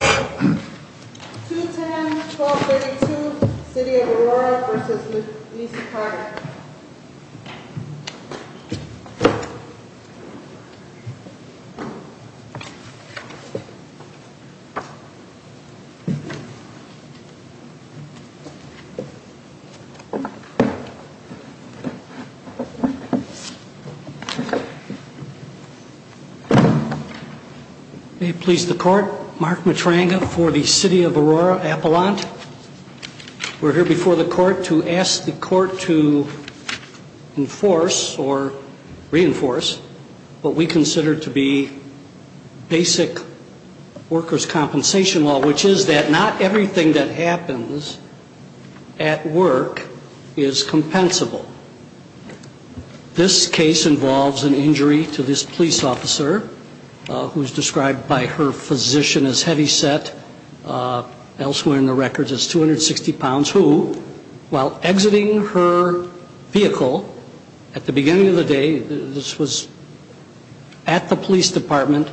210-1232 City of Aurora v. Lucey Park May it please the Court, Mark Matranga for the City of Aurora Appellant. We're here before the Court to ask the Court to enforce or reinforce what we consider to be basic workers' compensation law, which is that not everything that happens at work is compensable. This case involves an injury to this police officer who's described by her physician as heavyset, elsewhere in the records as 260 pounds, who, while exiting her vehicle at the beginning of the day, this was at the police department,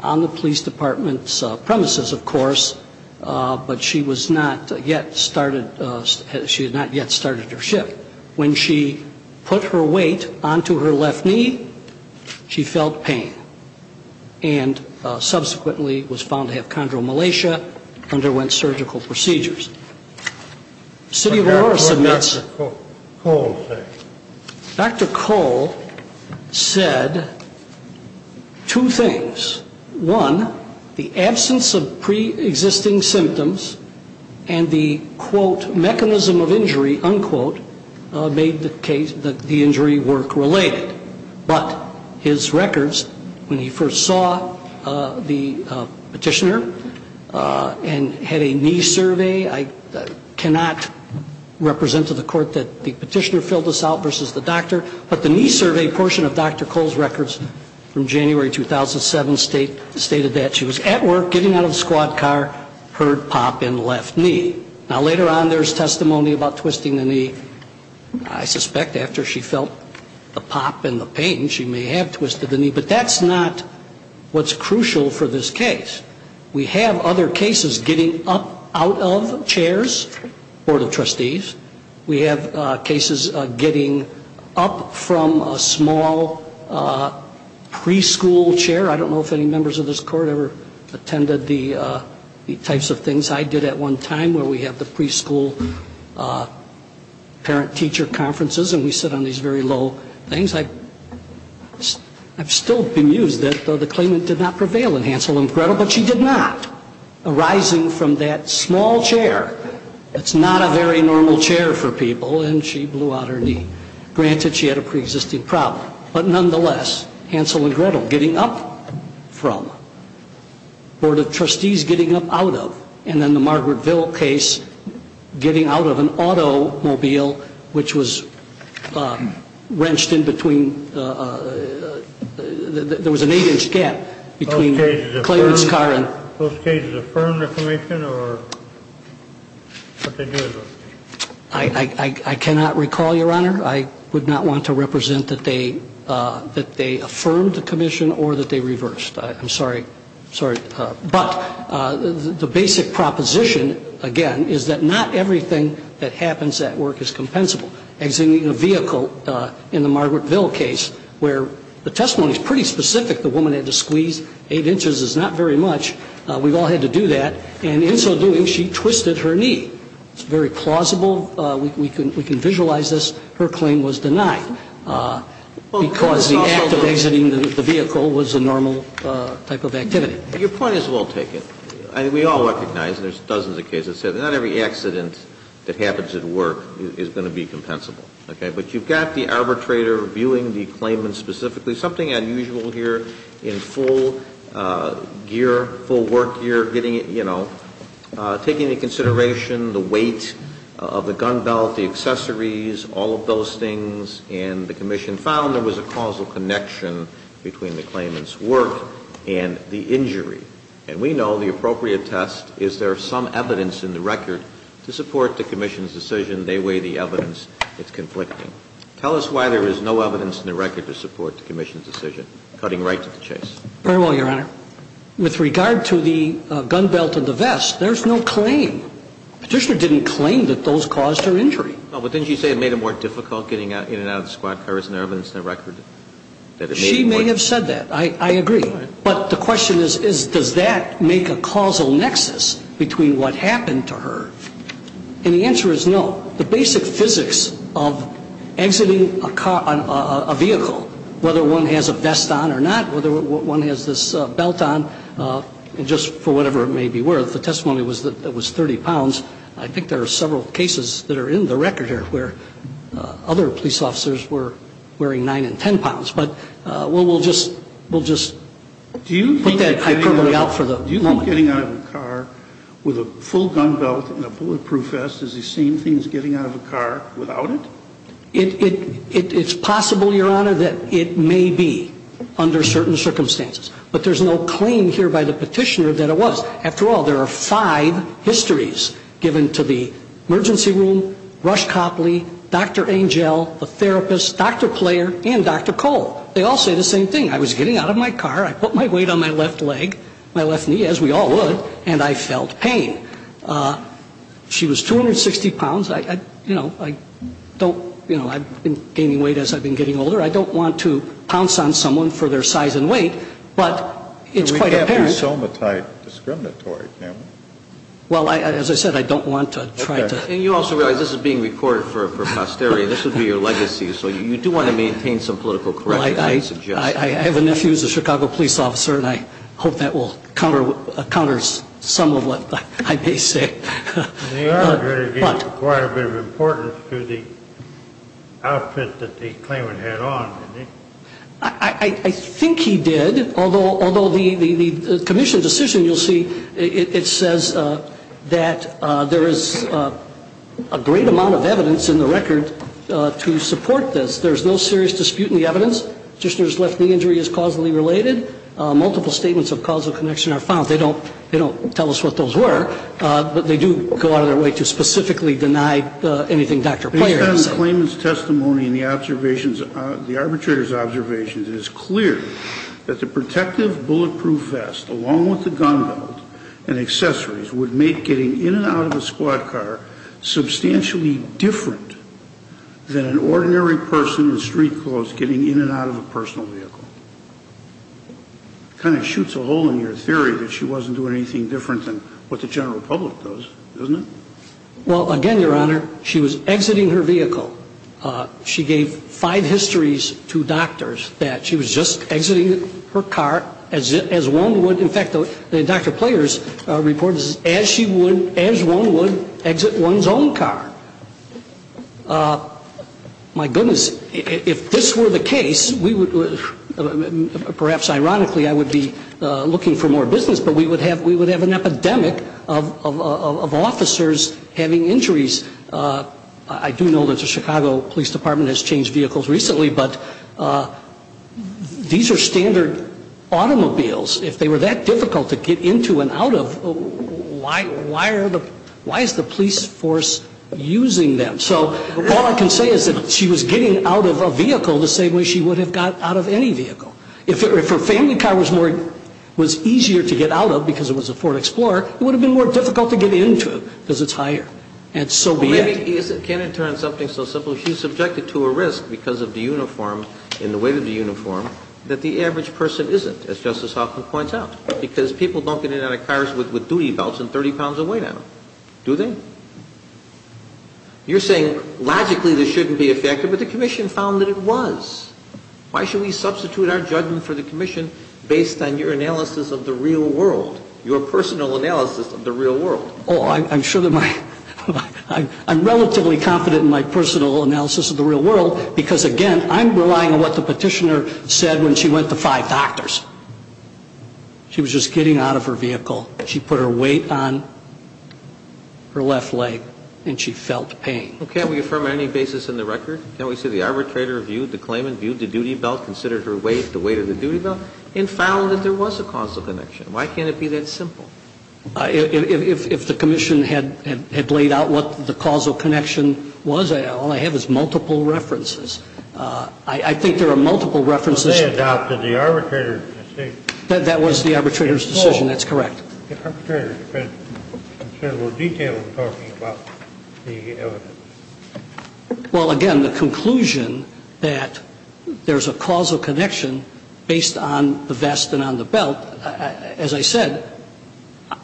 on the police department's premises, of course, but she was not yet started, she had not yet started her shift. When she put her weight onto her left knee, she felt pain and subsequently was found to have chondromalacia, underwent surgical procedures. City of Aurora submits. Dr. Cole said two things. One, the absence of pre-existing symptoms and the, quote, mechanism of injury, unquote, made the injury work related. But his records, when he first saw the petitioner and had a knee survey, I cannot represent to the Court that the petitioner filled this out versus the doctor, but the knee survey portion of Dr. Cole's records from January 2007 stated that she was at work, getting out of the squad car, heard pop in the left knee. Now, later on, there's testimony about twisting the knee. I suspect after she felt the pop and the pain, she may have twisted the knee, but that's not what's crucial for this case. We have other cases getting up out of chairs, Board of Trustees. We have cases getting up from a small preschool chair. I don't know if any members of this Court ever attended the types of things I did at one time where we have the preschool parent-teacher conferences and we sit on these very low things. I've still been used that the claimant did not prevail in Hansel and Gretel, but she did not, arising from that small chair. It's not a very normal chair for people, and she blew out her knee. Granted, she had a pre-existing problem. But nonetheless, Hansel and Gretel, getting up from, Board of Trustees getting up out of, and then the Margaretville case, getting out of an automobile which was wrenched in between – there was an 8-inch gap between Clarence Carr and – Those cases affirm the claimant, or what they do is – I cannot recall, Your Honor. I would not want to represent that they affirmed the commission or that they reversed. I'm sorry. But the basic proposition, again, is that not everything that happens at work is compensable. Exiting a vehicle in the Margaretville case where the testimony is pretty specific, the woman had to squeeze 8 inches is not very much. We've all had to do that. And in so doing, she twisted her knee. It's very plausible. We can visualize this. Her claim was denied because the act of exiting the vehicle was a normal type of activity. Your point is well taken. I mean, we all recognize, and there's dozens of cases, that not every accident that happens at work is going to be compensable. Okay? But you've got the arbitrator viewing the claimant specifically. Something unusual here in full gear, full work gear, taking into consideration the weight of the gun belt, the accessories, all of those things, and the commission found there was a causal connection between the claimant's work and the injury. And we know the appropriate test is there some evidence in the record to support the commission's decision. They weigh the evidence. It's conflicting. Tell us why there is no evidence in the record to support the commission's decision. Cutting right to the chase. Very well, Your Honor. With regard to the gun belt and the vest, there's no claim. Petitioner didn't claim that those caused her injury. But didn't she say it made it more difficult getting in and out of the squad car? Isn't there evidence in the record that it made it more difficult? She may have said that. I agree. But the question is, does that make a causal nexus between what happened to her? And the answer is no. The basic physics of exiting a vehicle, whether one has a vest on or not, whether one has this belt on, just for whatever it may be worth, the testimony was that it was 30 pounds. I think there are several cases that are in the record here where other police officers were wearing 9 and 10 pounds. But we'll just put that hyperbole out for the moment. When you say getting out of a car with a full gun belt and a bulletproof vest, is the same thing as getting out of a car without it? It's possible, Your Honor, that it may be under certain circumstances. But there's no claim here by the petitioner that it was. After all, there are five histories given to the emergency room, Rush Copley, Dr. Angel, the therapist, Dr. Player, and Dr. Cole. They all say the same thing. I was getting out of my car. I put my weight on my left leg, my left knee, as we all would, and I felt pain. She was 260 pounds. I, you know, I don't, you know, I've been gaining weight as I've been getting older. I don't want to pounce on someone for their size and weight, but it's quite apparent. We can't do somatite discriminatory, can we? Well, as I said, I don't want to try to. And you also realize this is being recorded for posterity. This would be your legacy. So you do want to maintain some political correctness. I have a nephew who's a Chicago police officer, and I hope that will counter some of what I may say. They are going to give quite a bit of importance to the outfit that the claimant had on. I think he did, although the commission's decision, you'll see, it says that there is a great amount of evidence in the record to support this. There is no serious dispute in the evidence. The petitioner's left knee injury is causally related. Multiple statements of causal connection are found. They don't tell us what those were, but they do go out of their way to specifically deny anything Dr. Pleyer has said. Based on the claimant's testimony and the arbitrator's observations, it is clear that the protective bulletproof vest, along with the gun belt and accessories, would make getting in and out of a squad car substantially different than an ordinary person in street clothes getting in and out of a personal vehicle. It kind of shoots a hole in your theory that she wasn't doing anything different than what the general public does, doesn't it? Well, again, Your Honor, she was exiting her vehicle. She gave five histories to doctors that she was just exiting her car as one would. In fact, Dr. Pleyer's report is as one would exit one's own car. My goodness, if this were the case, perhaps ironically I would be looking for more business, but we would have an epidemic of officers having injuries. I do know that the Chicago Police Department has changed vehicles recently, but these are standard automobiles. If they were that difficult to get into and out of, why is the police force using them? So all I can say is that she was getting out of a vehicle the same way she would have got out of any vehicle. If her family car was easier to get out of because it was a Ford Explorer, it would have been more difficult to get into it because it's higher. And so be it. Can it turn something so simple? So she's subjected to a risk because of the uniform and the weight of the uniform that the average person isn't, as Justice Hoffman points out, because people don't get in and out of cars with duty belts and 30 pounds of weight on them. Do they? You're saying logically this shouldn't be effective, but the commission found that it was. Why should we substitute our judgment for the commission based on your analysis of the real world, your personal analysis of the real world? Oh, I'm sure that my – I'm relatively confident in my personal analysis of the real world because, again, I'm relying on what the Petitioner said when she went to five doctors. She was just getting out of her vehicle. She put her weight on her left leg, and she felt pain. Well, can't we affirm on any basis in the record? Can't we say the arbitrator viewed the claimant, viewed the duty belt, considered her weight the weight of the duty belt, and found that there was a causal connection? Why can't it be that simple? If the commission had laid out what the causal connection was, all I have is multiple references. I think there are multiple references. Well, they adopted the arbitrator's decision. That was the arbitrator's decision. That's correct. The arbitrator had considerable detail in talking about the evidence. Well, again, the conclusion that there's a causal connection based on the vest and on the belt, as I said,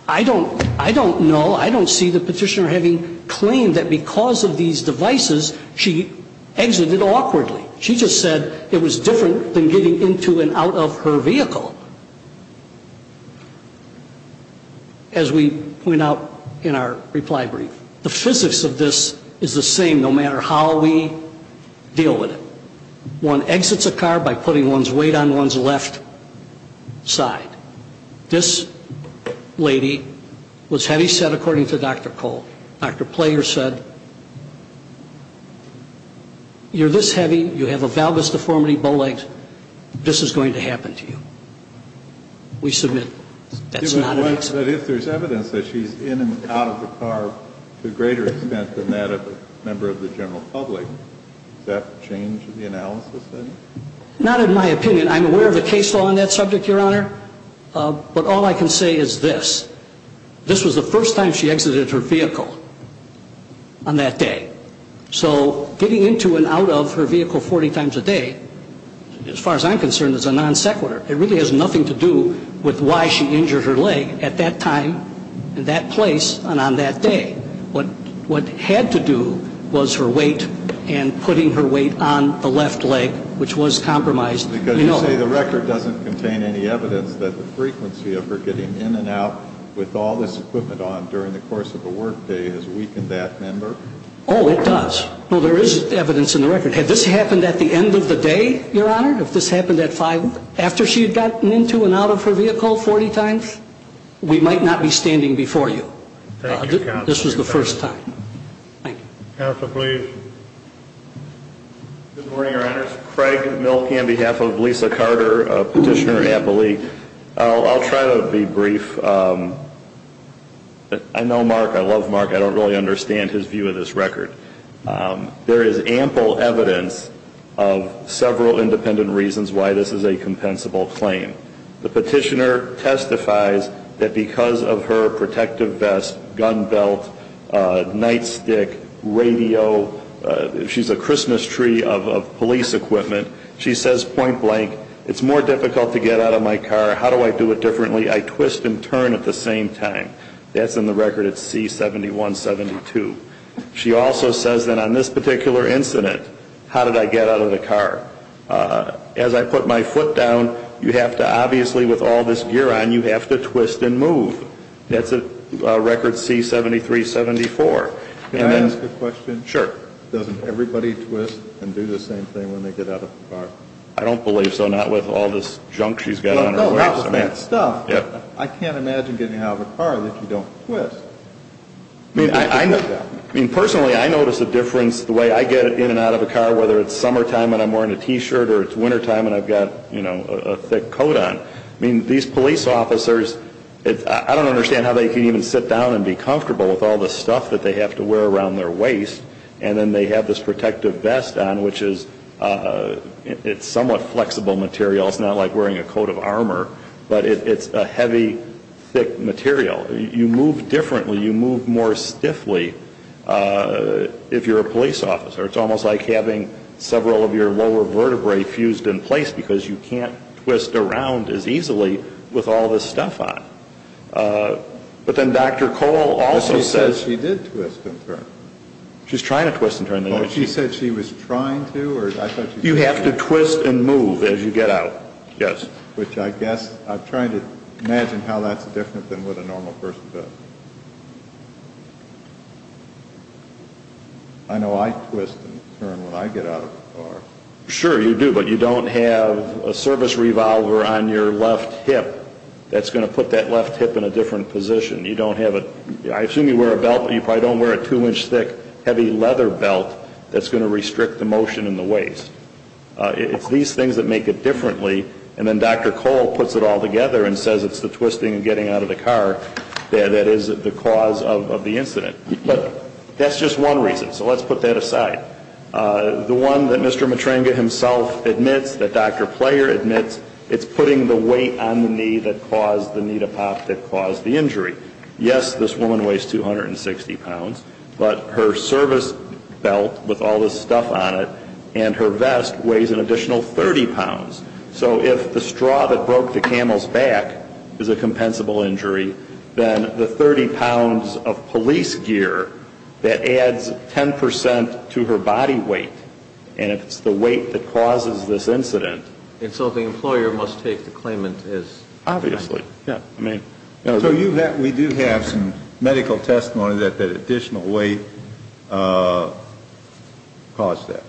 I don't know, I don't see the Petitioner having claimed that because of these devices she exited awkwardly. She just said it was different than getting into and out of her vehicle. As we point out in our reply brief, the physics of this is the same no matter how we deal with it. One exits a car by putting one's weight on one's left side. This lady was heavy set according to Dr. Cole. Dr. Player said, you're this heavy, you have a valgus deformity, bow legs, this is going to happen to you. We submit that's not an exit. But if there's evidence that she's in and out of the car to a greater extent than that of a member of the general public, does that change the analysis then? Not in my opinion. I'm aware of a case law on that subject, Your Honor. But all I can say is this. This was the first time she exited her vehicle on that day. So getting into and out of her vehicle 40 times a day, as far as I'm concerned, is a non sequitur. It really has nothing to do with why she injured her leg at that time, in that place, and on that day. What had to do was her weight and putting her weight on the left leg, which was compromised. Because you say the record doesn't contain any evidence that the frequency of her getting in and out with all this equipment on during the course of a work day has weakened that member? Oh, it does. Well, there is evidence in the record. Had this happened at the end of the day, Your Honor, if this happened at 5, after she had gotten into and out of her vehicle 40 times, we might not be standing before you. Thank you, Counsel. This was the first time. Thank you. Counsel, please. Good morning, Your Honors. Craig Milkey on behalf of Lisa Carter, Petitioner Appellee. I'll try to be brief. I know Mark. I love Mark. I don't really understand his view of this record. There is ample evidence of several independent reasons why this is a compensable claim. The petitioner testifies that because of her protective vest, gun belt, nightstick, radio, she's a Christmas tree of police equipment. She says point blank, it's more difficult to get out of my car. How do I do it differently? I twist and turn at the same time. That's in the record at C-7172. She also says that on this particular incident, how did I get out of the car? As I put my foot down, you have to obviously with all this gear on, you have to twist and move. That's at record C-7374. Can I ask a question? Sure. Doesn't everybody twist and do the same thing when they get out of the car? I don't believe so, not with all this junk she's got on her waist. I can't imagine getting out of a car that you don't twist. Personally, I notice a difference the way I get in and out of a car, whether it's summertime and I'm wearing a T-shirt or it's wintertime and I've got a thick coat on. These police officers, I don't understand how they can even sit down and be comfortable with all this stuff that they have to wear around their waist, and then they have this protective vest on, which is somewhat flexible material. It's not like wearing a coat of armor, but it's a heavy, thick material. You move differently. You move more stiffly if you're a police officer. It's almost like having several of your lower vertebrae fused in place because you can't twist around as easily with all this stuff on. But then Dr. Cole also says she did twist and turn. She's trying to twist and turn. She said she was trying to? You have to twist and move as you get out, yes. I'm trying to imagine how that's different than what a normal person does. I know I twist and turn when I get out of the car. Sure, you do, but you don't have a service revolver on your left hip that's going to put that left hip in a different position. I assume you wear a belt, but you probably don't wear a two-inch thick heavy leather belt that's going to restrict the motion in the waist. It's these things that make it differently, and then Dr. Cole puts it all together and says it's the twisting and getting out of the car that is the cause of the incident. But that's just one reason, so let's put that aside. The one that Mr. Matrenga himself admits, that Dr. Player admits, it's putting the weight on the knee that caused the knee to pop that caused the injury. Yes, this woman weighs 260 pounds, but her service belt with all this stuff on it and her vest weighs an additional 30 pounds. So if the straw that broke the camel's back is a compensable injury, then the 30 pounds of police gear, that adds 10 percent to her body weight, and it's the weight that causes this incident. And so the employer must take the claimant as? Obviously. So we do have some medical testimony that that additional weight caused that.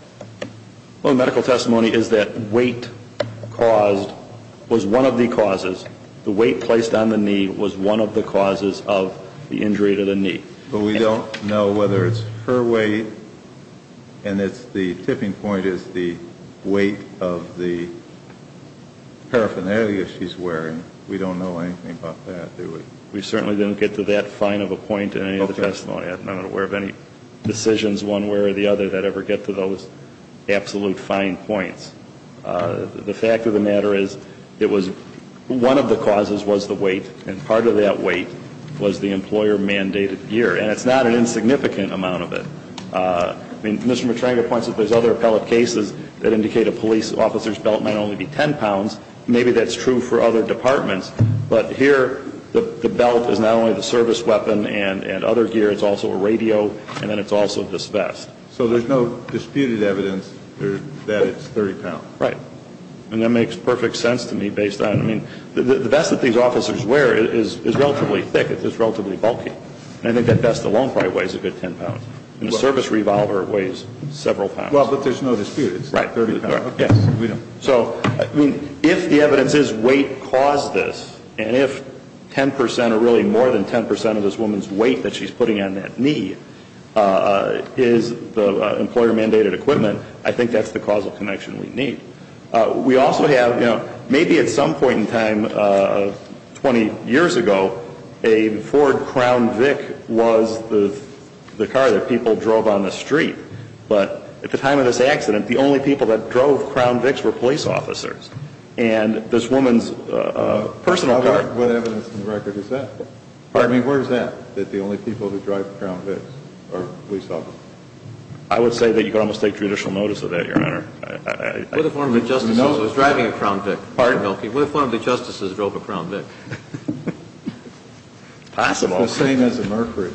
Well, the medical testimony is that weight caused was one of the causes. The weight placed on the knee was one of the causes of the injury to the knee. But we don't know whether it's her weight and the tipping point is the weight of the paraphernalia she's wearing. We don't know anything about that, do we? We certainly didn't get to that fine of a point in any of the testimony. Okay. I'm not aware of any decisions one way or the other that ever get to those absolute fine points. The fact of the matter is it was one of the causes was the weight, and part of that weight was the employer-mandated gear. And it's not an insignificant amount of it. I mean, Mr. Matrenga points out there's other appellate cases that indicate a police officer's belt might only be 10 pounds. Maybe that's true for other departments, but here the belt is not only the service weapon and other gear, it's also a radio, and then it's also this vest. So there's no disputed evidence that it's 30 pounds? Right. And that makes perfect sense to me based on, I mean, the vest that these officers wear is relatively thick. It's relatively bulky. And I think that vest alone probably weighs a good 10 pounds. And the service revolver weighs several pounds. Well, but there's no dispute. It's 30 pounds. Right. If the evidence is weight caused this, and if 10 percent or really more than 10 percent of this woman's weight that she's putting on that knee is the employer-mandated equipment, I think that's the causal connection we need. We also have, you know, maybe at some point in time, 20 years ago, a Ford Crown Vic was the car that people drove on the street. But at the time of this accident, the only people that drove Crown Vics were police officers. And this woman's personal car. What evidence in the record is that? Pardon me? Where is that, that the only people who drive Crown Vics are police officers? I would say that you can almost take judicial notice of that, Your Honor. What if one of the justices was driving a Crown Vic? Pardon? What if one of the justices drove a Crown Vic? It's possible. It's the same as a Mercury.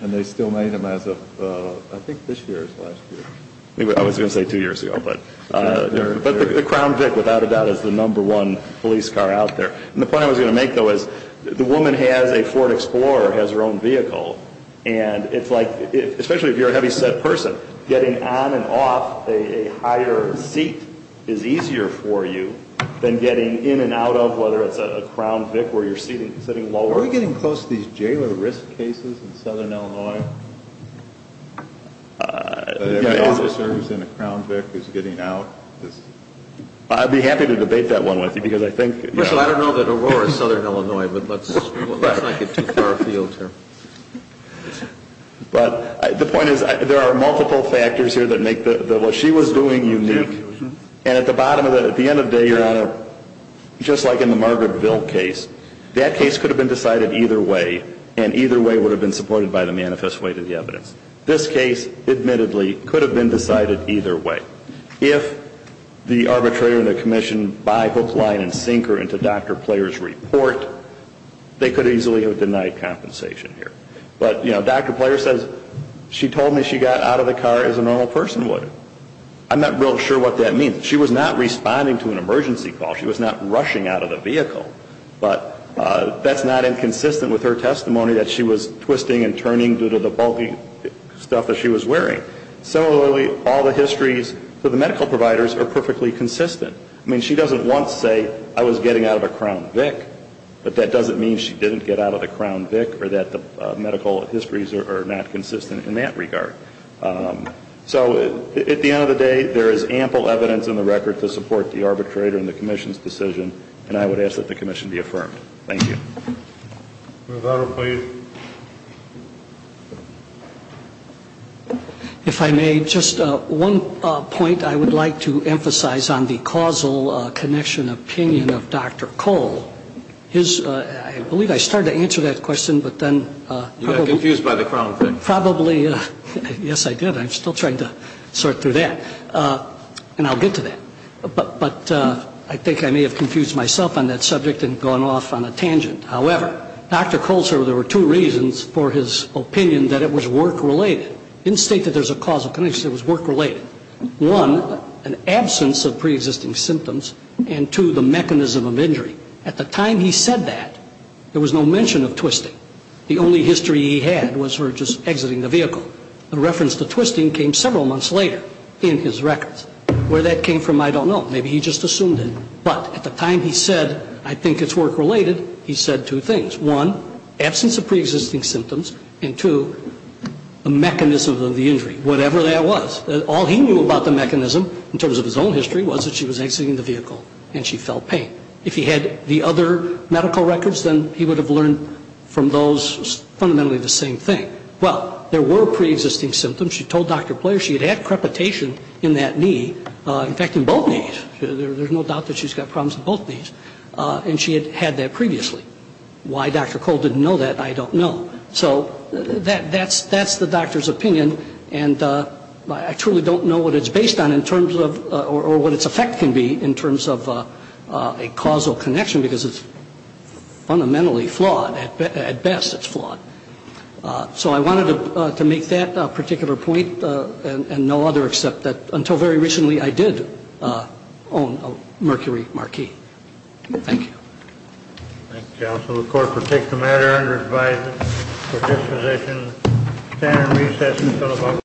And they still made them as of, I think, this year or last year. I was going to say two years ago. But the Crown Vic, without a doubt, is the number one police car out there. And the point I was going to make, though, is the woman has a Ford Explorer, has her own vehicle. And it's like, especially if you're a heavyset person, getting on and off a higher seat is easier for you than getting in and out of, whether it's a Crown Vic where you're sitting lower. Are we getting close to these jailer risk cases in Southern Illinois? The officer who's in a Crown Vic is getting out. I'd be happy to debate that one with you because I think... I don't know that Aurora is Southern Illinois, but let's not get too far afield here. But the point is there are multiple factors here that make what she was doing unique. And at the bottom, at the end of the day, Your Honor, just like in the Margaretville case, that case could have been decided either way. And either way would have been supported by the manifest weight of the evidence. This case, admittedly, could have been decided either way. If the arbitrator and the commission buy, book, line, and sink her into Dr. Player's report, they could easily have denied compensation here. But, you know, Dr. Player says she told me she got out of the car as a normal person would. I'm not real sure what that means. She was not responding to an emergency call. She was not rushing out of the vehicle. But that's not inconsistent with her testimony that she was twisting and turning due to the bulky stuff that she was wearing. Similarly, all the histories for the medical providers are perfectly consistent. I mean, she doesn't want to say, I was getting out of a Crown Vic, but that doesn't mean she didn't get out of a Crown Vic or that the medical histories are not consistent in that regard. So at the end of the day, there is ample evidence in the record to support the arbitrator and the commission's decision. And I would ask that the commission be affirmed. MR. GARRETT. If I may, just one point I would like to emphasize on the causal connection opinion of Dr. Cole. His ‑‑ I believe I started to answer that question, but then ‑‑ You got confused by the Crown Vic. Probably. Yes, I did. I'm still trying to sort through that. And I'll get to that. But I think I may have confused myself on that subject and gone off on a tangent. However, Dr. Cole said there were two reasons for his opinion that it was work‑related. In the state that there's a causal connection, it was work‑related. One, an absence of preexisting symptoms, and two, the mechanism of injury. At the time he said that, there was no mention of twisting. The only history he had was her just exiting the vehicle. The reference to twisting came several months later in his records. Where that came from, I don't know. Maybe he just assumed it. But at the time he said, I think it's work‑related, he said two things. One, absence of preexisting symptoms, and two, a mechanism of the injury, whatever that was. All he knew about the mechanism in terms of his own history was that she was exiting the vehicle and she felt pain. If he had the other medical records, then he would have learned from those fundamentally the same thing. Well, there were preexisting symptoms. She told Dr. Player she had had crepitation in that knee. In fact, in both knees. There's no doubt that she's got problems in both knees. And she had had that previously. Why Dr. Cole didn't know that, I don't know. So that's the doctor's opinion, and I truly don't know what it's based on in terms of, or what its effect can be in terms of a causal connection, because it's fundamentally flawed. At best, it's flawed. So I wanted to make that particular point, and no other, except that until very recently I did own a Mercury Marquis. Thank you. Thank you, counsel. The court will take the matter under advisory for disposition. Standard recess until about ‑‑